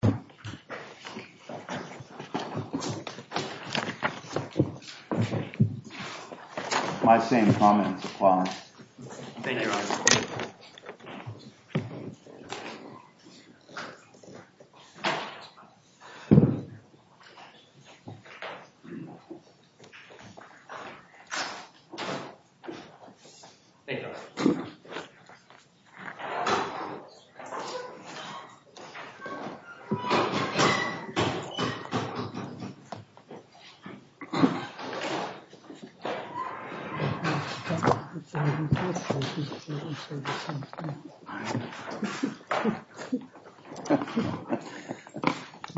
Page 8 8 3 3 1 4 4 5 1 5 1 4 6 6 6 6 2 2 2 3 3 3 1 1 1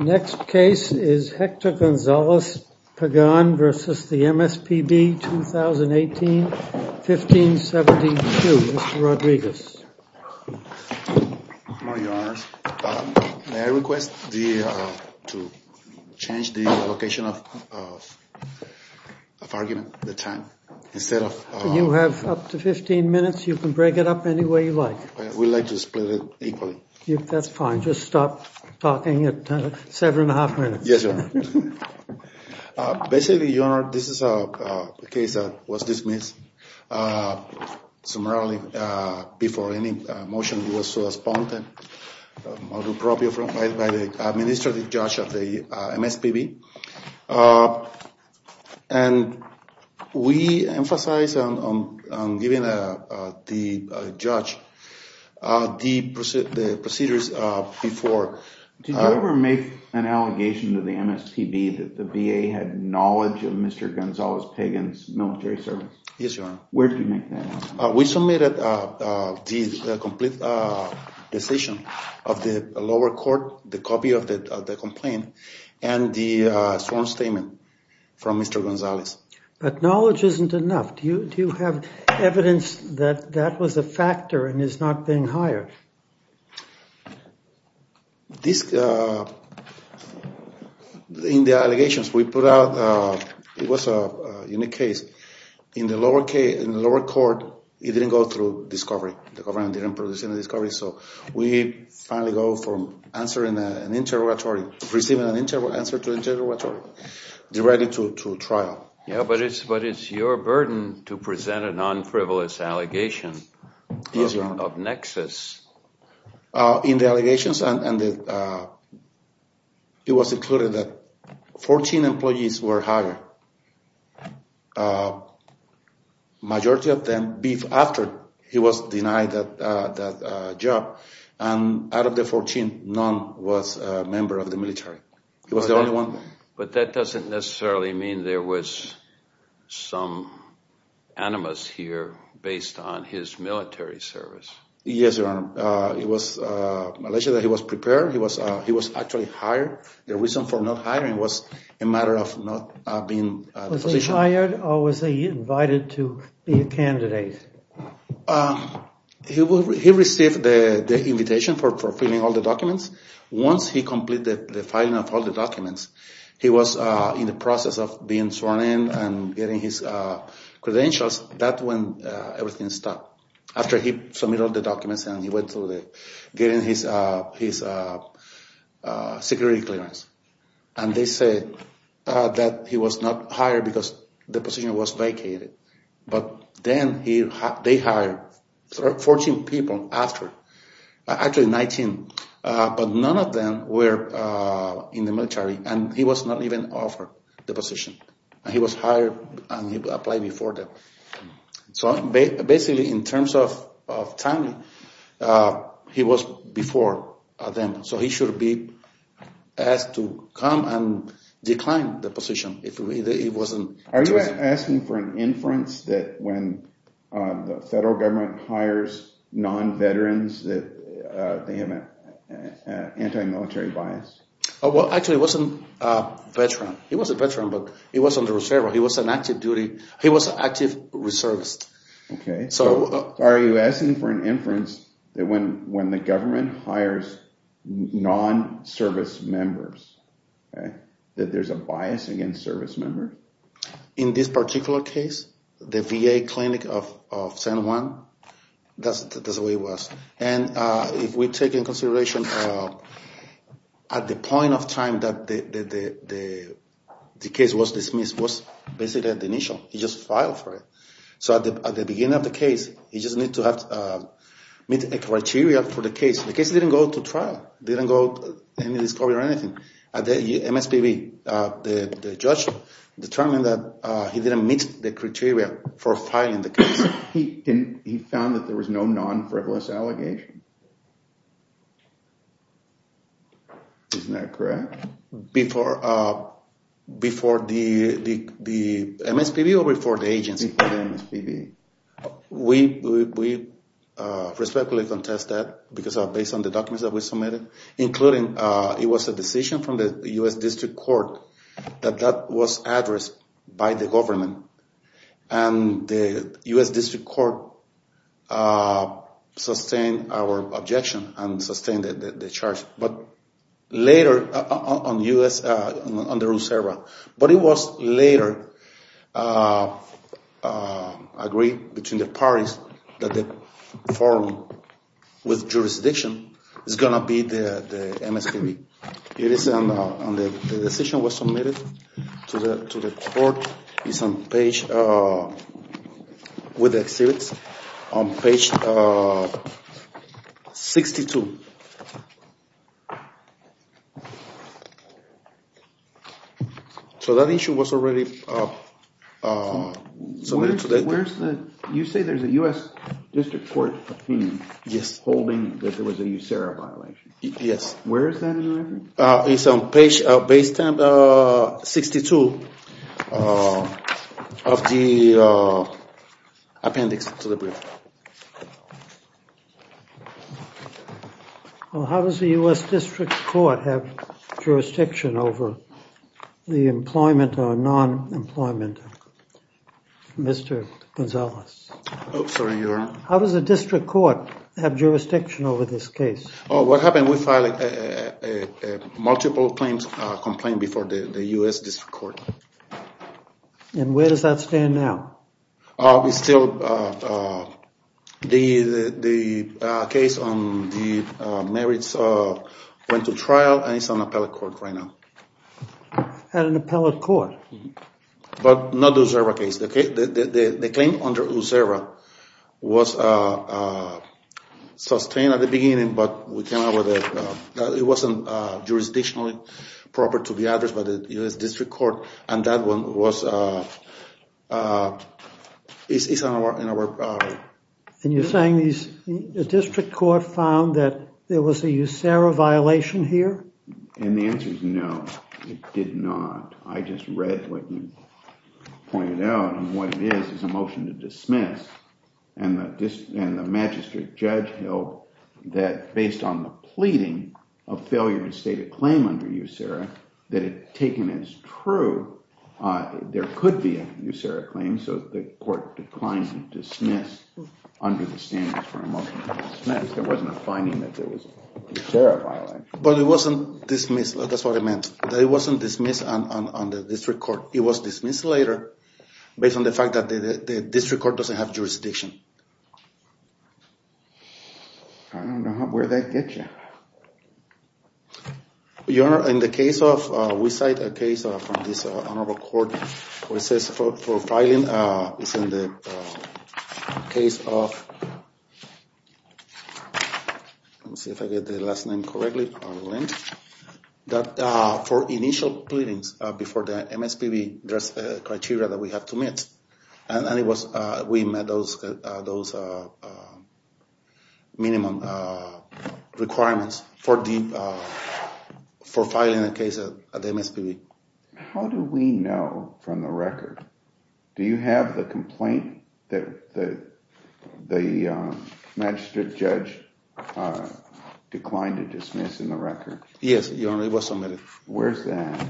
The Jury's verdict says Hector Gonzalez Pegan has more faith than 30 percent confidence to appear. Next case is Hector Gonzalez Pegan versus the MSPB, 2018-1572. Mr. Rodriguez. I would like to change the location of the argument, the time, instead of... You have up to 15 minutes. You can break it up any way you like. I would like to split it equally. That's fine. Just stop talking at seven and a half minutes. Yes, Your Honor. Basically, Your Honor, this is a case that was dismissed. Summarily, before any motion was so responded, I will do appropriate by the administrative judge of the MSPB. And we emphasize on giving the judge the procedures before. Did you ever make an allegation to the MSPB that the VA had knowledge of Mr. Gonzalez Pegan's military service? Yes, Your Honor. Where did you make that allegation? We submitted the complete decision of the lower court, the copy of the complaint, and the sworn statement from Mr. Gonzalez. But knowledge isn't enough. Do you have evidence that that was a factor and is not being hired? In the allegations we put out, it was a unique case. In the lower court, it didn't go through discovery. The government didn't produce any discovery. So we finally go from receiving an answer to an interrogatory directly to trial. But it's your burden to present a non-frivolous allegation of nexus. Yes, Your Honor. In the allegations, it was included that 14 employees were hired. The majority of them, after he was denied that job, and out of the 14, none was a member of the military. He was the only one. But that doesn't necessarily mean there was some animus here based on his military service. Yes, Your Honor. It was alleged that he was prepared. He was actually hired. The reason for not hiring was a matter of not being a physician. Was he hired or was he invited to be a candidate? He received the invitation for filling all the documents. Once he completed the filing of all the documents, he was in the process of being sworn in and getting his credentials. That's when everything stopped. After he submitted all the documents and he went through getting his security clearance. And they said that he was not hired because the position was vacated. But then they hired 14 people after. Actually, 19. But none of them were in the military. And he was not even offered the position. He was hired and he applied before them. So basically, in terms of time, he was before them. So he should be asked to come and decline the position. Are you asking for an inference that when the federal government hires non-veterans, that they have an anti-military bias? Well, actually, he wasn't a veteran. He was a veteran, but he was on the reserve. He was on active duty. He was active reservist. Okay. So are you asking for an inference that when the government hires non-service members, that there's a bias against service members? In this particular case, the VA clinic of San Juan, that's the way it was. And if we take into consideration at the point of time that the case was dismissed, it was basically at the initial. He just filed for it. So at the beginning of the case, he just needed to meet the criteria for the case. The case didn't go to trial. It didn't go to any discovery or anything. At the MSPB, the judge determined that he didn't meet the criteria for filing the case. He found that there was no non-frivolous allegation. Isn't that correct? Before the MSPB or before the agency? Before the MSPB. We respectfully contest that because based on the documents that we submitted, including it was a decision from the U.S. District Court that that was addressed by the government. And the U.S. District Court sustained our objection and sustained the charge. But later, on the U.S. reserve, but it was later agreed between the parties that the forum with jurisdiction is going to be the MSPB. The decision was submitted to the court. It's on page 62. So that issue was already submitted. You say there's a U.S. District Court opinion holding that there was a USERRA violation. Yes. Where is that in your record? It's on page 62. Of the appendix to the brief. How does the U.S. District Court have jurisdiction over the employment or non-employment? Mr. Gonzalez. Sorry, Your Honor. How does the District Court have jurisdiction over this case? What happened, we filed a multiple complaint before the U.S. District Court. And where does that stand now? It's still, the case on the marriage went to trial and it's on appellate court right now. At an appellate court? But not the USERRA case. The claim under USERRA was sustained at the beginning, but it wasn't jurisdictionally proper to be addressed by the U.S. District Court. And you're saying the District Court found that there was a USERRA violation here? And the answer is no, it did not. I just read what you pointed out, and what it is is a motion to dismiss. And the magistrate judge held that based on the pleading of failure to state a claim under USERRA, that it taken as true, there could be a USERRA claim, so the court declined to dismiss under the standards for a motion to dismiss. There wasn't a finding that there was a USERRA violation. But it wasn't dismissed, that's what it meant. That it wasn't dismissed under the District Court. It was dismissed later based on the fact that the District Court doesn't have jurisdiction. I don't know where that gets you. Your Honor, in the case of, we cite a case from this honorable court, where it says for filing, it's in the case of, let me see if I get the last name correctly, that for initial pleadings before the MSPB, there's a criteria that we have to meet. And it was, we met those minimum requirements for filing a case at the MSPB. How do we know from the record? Do you have the complaint that the magistrate judge declined to dismiss in the record? Yes, Your Honor, it was submitted. Where's that?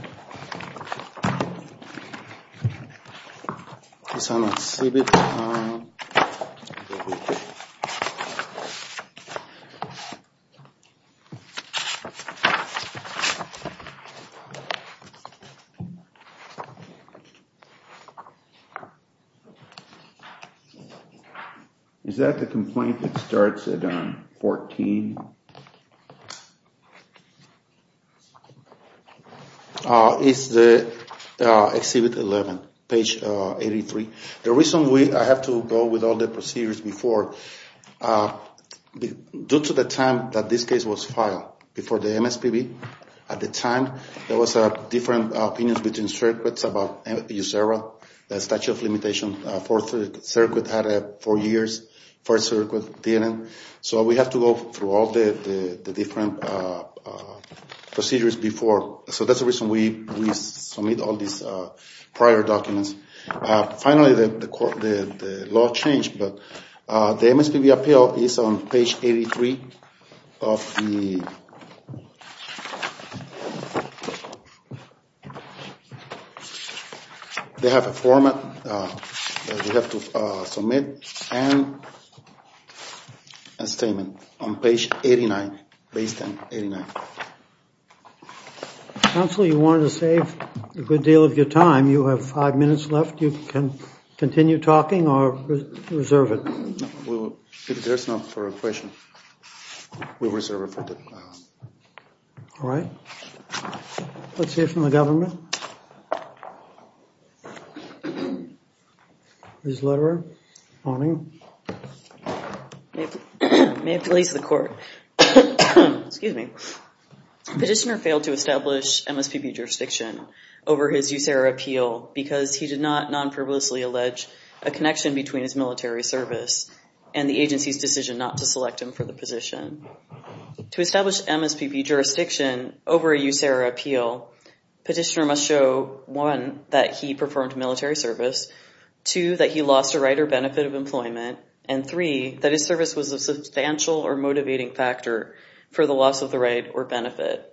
Is that the complaint that starts at 14? It's the exhibit 11, page 83. The reason I have to go with all the procedures before, due to the time that this case was filed before the MSPB, at the time there was a different opinion between circuits about USERRA. The statute of limitations for circuit had four years, for circuit didn't. So we have to go through all the different procedures before. So that's the reason we submit all these prior documents. Finally, the law changed, but the MSPB appeal is on page 83 of the... They have a format that you have to submit and a statement on page 89, base 1089. Counsel, you wanted to save a good deal of your time. You have five minutes left. You can continue talking or reserve it. If there's enough for a question, we reserve it. All right, let's hear from the government. Ms. Lederer, morning. May it please the court. Excuse me. Petitioner failed to establish MSPB jurisdiction over his USERRA appeal because he did not non-privilegedly allege a connection between his military service and the agency's decision not to select him for the position. To establish MSPB jurisdiction over a USERRA appeal, petitioner must show, one, that he performed military service, two, that he lost a right or benefit of employment, and three, that his service was a substantial or motivating factor for the loss of the right or benefit.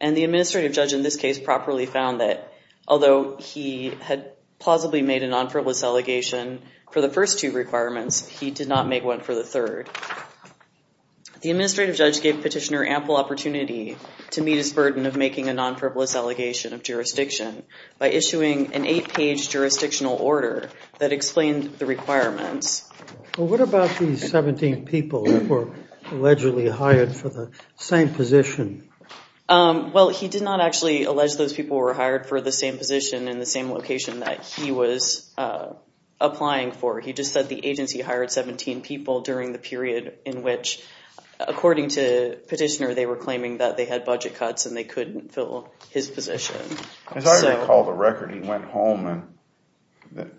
And the administrative judge in this case properly found that, although he had plausibly made a non-frivolous allegation for the first two requirements, he did not make one for the third. The administrative judge gave petitioner ample opportunity to meet his burden of making a non-frivolous allegation of jurisdiction by issuing an eight-page jurisdictional order that explained the requirements. Well, what about these 17 people who were allegedly hired for the same position? Well, he did not actually allege those people were hired for the same position in the same location that he was applying for. He just said the agency hired 17 people during the period in which, according to petitioner, they were claiming that they had budget cuts and they couldn't fill his position. As I recall the record, he went home and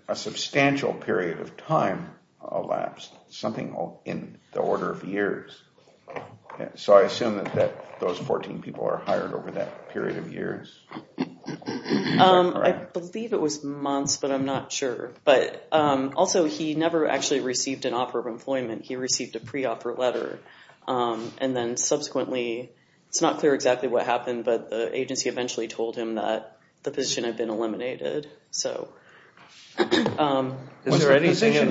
a substantial period of time elapsed, something in the order of years. So I assume that those 14 people are hired over that period of years? I believe it was months, but I'm not sure. But also, he never actually received an offer of employment. He received a pre-offer letter. And then subsequently, it's not clear exactly what happened, but the agency eventually told him that the position had been eliminated. Is there anything in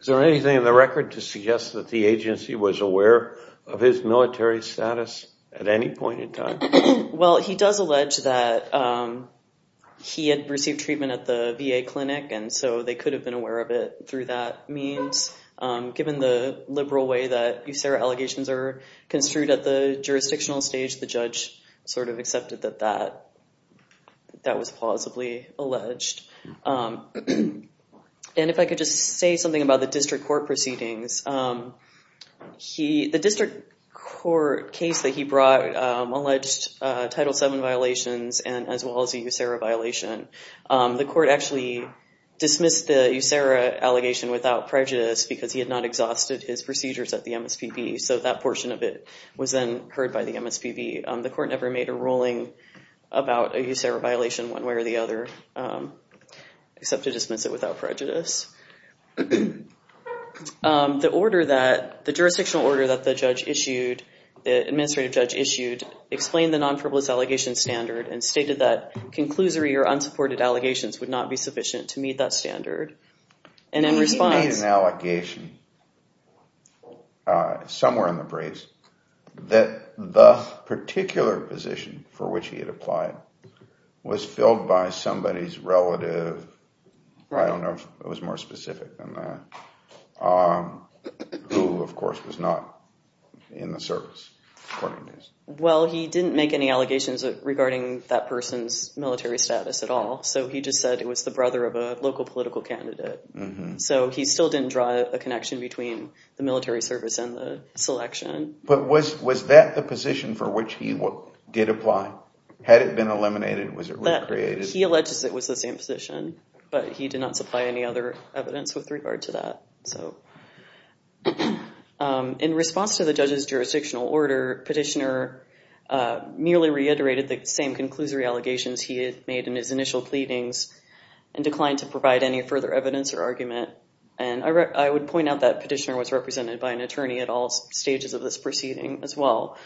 the record to suggest that the agency was aware of his military status at any point in time? Well, he does allege that he had received treatment at the VA clinic, and so they could have been aware of it through that means. Given the liberal way that USERA allegations are construed at the jurisdictional stage, the judge sort of accepted that that was plausibly alleged. And if I could just say something about the district court proceedings. The district court case that he brought alleged Title VII violations as well as a USERA violation. The court actually dismissed the USERA allegation without prejudice because he had not exhausted his procedures at the MSPB, so that portion of it was then heard by the MSPB. The court never made a ruling about a USERA violation one way or the other, except to dismiss it without prejudice. The jurisdictional order that the judge issued, the administrative judge issued, explained the non-frivolous allegation standard and stated that conclusory or unsupported allegations would not be sufficient to meet that standard. He made an allegation somewhere in the briefs that the particular position for which he had applied was filled by somebody's relative. I don't know if it was more specific than that, who of course was not in the service, according to this. Well, he didn't make any allegations regarding that person's military status at all. So he just said it was the brother of a local political candidate. So he still didn't draw a connection between the military service and the selection. But was that the position for which he did apply? Had it been eliminated? Was it recreated? He alleges it was the same position, but he did not supply any other evidence with regard to that. In response to the judge's jurisdictional order, Petitioner merely reiterated the same conclusory allegations he had made in his initial pleadings and declined to provide any further evidence or argument. And I would point out that Petitioner was represented by an attorney at all stages of this proceeding as well.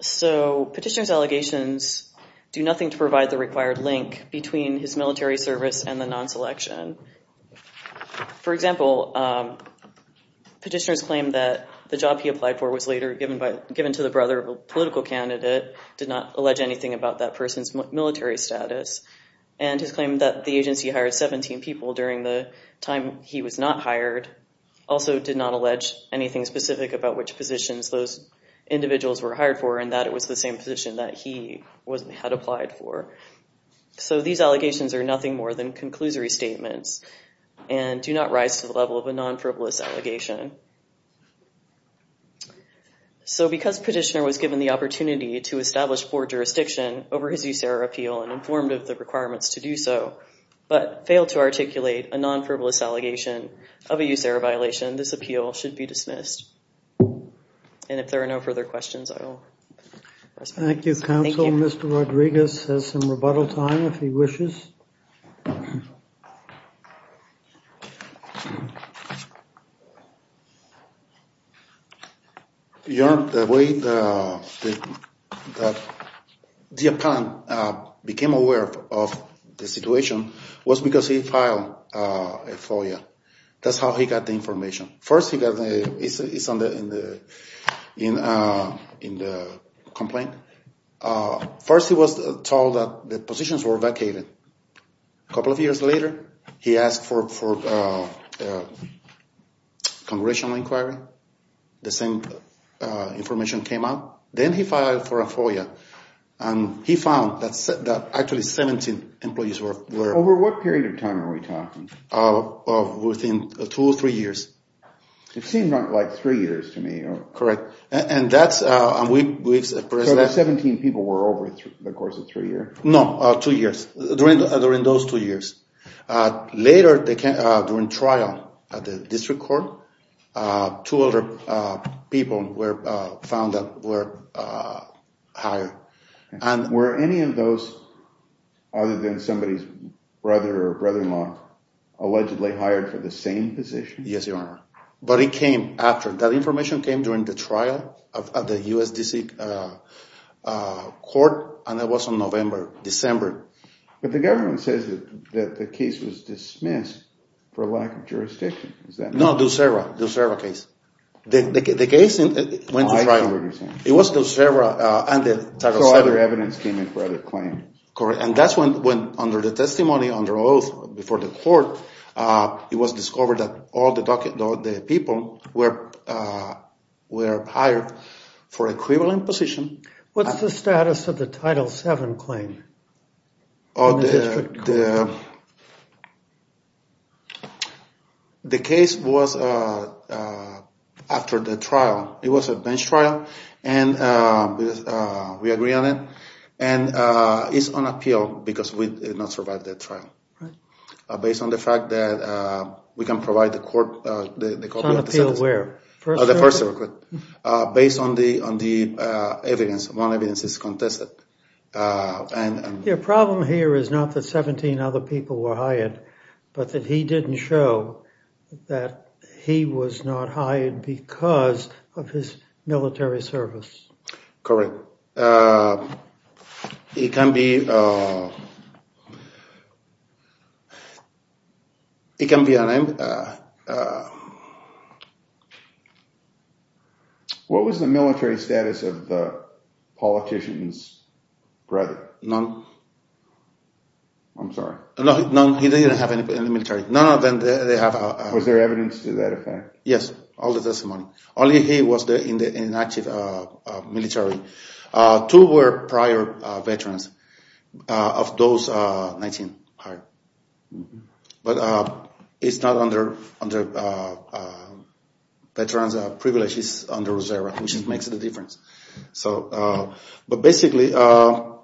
So Petitioner's allegations do nothing to provide the required link between his military service and the non-selection. For example, Petitioner's claim that the job he applied for was later given to the brother of a political candidate but did not allege anything about that person's military status. And his claim that the agency hired 17 people during the time he was not hired also did not allege anything specific about which positions those individuals were hired for and that it was the same position that he had applied for. So these allegations are nothing more than conclusory statements and do not rise to the level of a non-frivolous allegation. So because Petitioner was given the opportunity to establish poor jurisdiction over his use-error appeal and informed of the requirements to do so but failed to articulate a non-frivolous allegation of a use-error violation, this appeal should be dismissed. And if there are no further questions, I will... Thank you, Counsel. Mr. Rodriguez has some rebuttal time if he wishes. Your... The way the... The appellant became aware of the situation was because he filed a FOIA. That's how he got the information. First, he got the... It's on the... In the complaint. First, he was told that the positions were vacated. A couple of years later, he asked for a congressional inquiry. The same information came out. Then he filed for a FOIA. And he found that actually 17 employees were... Over what period of time are we talking? Within two or three years. It seemed like three years to me. Correct. And that's... So the 17 people were over the course of three years? No, two years. During those two years. Later, during trial at the district court, two other people were found that were hired. Were any of those other than somebody's brother or brother-in-law allegedly hired for the same position? Yes, Your Honor. But it came after. That information came during the trial at the USDC court, and it was in November, December. But the government says that the case was dismissed for lack of jurisdiction. Is that... No, Dussera. Dussera case. The case went to trial. It was Dussera and the title 7. So other evidence came in for other claims. Correct. And that's when, under the testimony, under oath before the court, it was discovered that all the people were hired for equivalent position. What's the status of the title 7 claim? The case was after the trial. It was a bench trial, and we agree on it. And it's on appeal because we did not survive that trial. Right. Based on the fact that we can provide the court... It's on appeal where? First Circuit? Based on the evidence. One evidence is contested. The problem here is not that 17 other people were hired, but that he didn't show that he was not hired because of his military service. Correct. It can be... It can be... What was the military status of the politician's brother? None. I'm sorry. None. He didn't have any military. None of them, they have... Was there evidence to that effect? Yes, all the testimony. Only he was there in the active military. Two were prior veterans of those 19 hired. But it's not under... Veterans are privileged. It's under the reserve, which makes the difference. But basically, on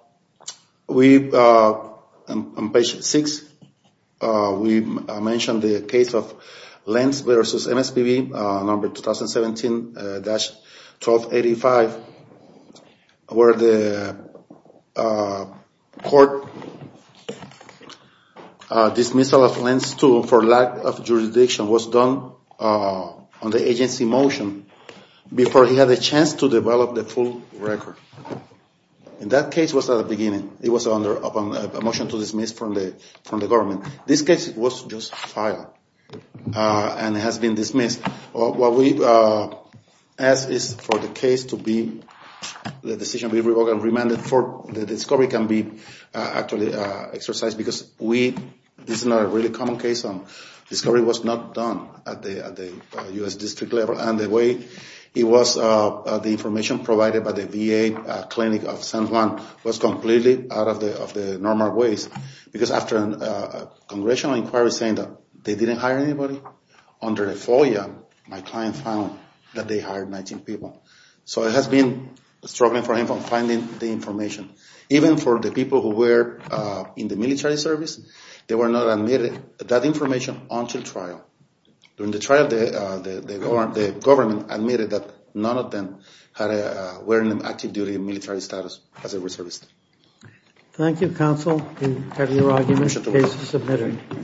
page 6, we mentioned the case of Lenz versus MSPB, number 2017-1285, where the court dismissal of Lenz for lack of jurisdiction was done on the agency motion before he had a chance to develop the full record. And that case was at the beginning. It was under a motion to dismiss from the government. This case was just filed and has been dismissed. What we ask is for the case to be... The decision to be revoked and remanded for the discovery can be actually exercised because this is not a really common case. Discovery was not done at the U.S. district level. And the way it was, the information provided by the VA clinic of San Juan was completely out of the normal ways because after a congressional inquiry saying that they didn't hire anybody, under a FOIA, my client found that they hired 19 people. So it has been struggling for him from finding the information. Even for the people who were in the military service, they were not admitted that information until trial. During the trial, the government admitted that none of them were in active duty military status as a reservist. Thank you, counsel. We have your argument. Case is submitted.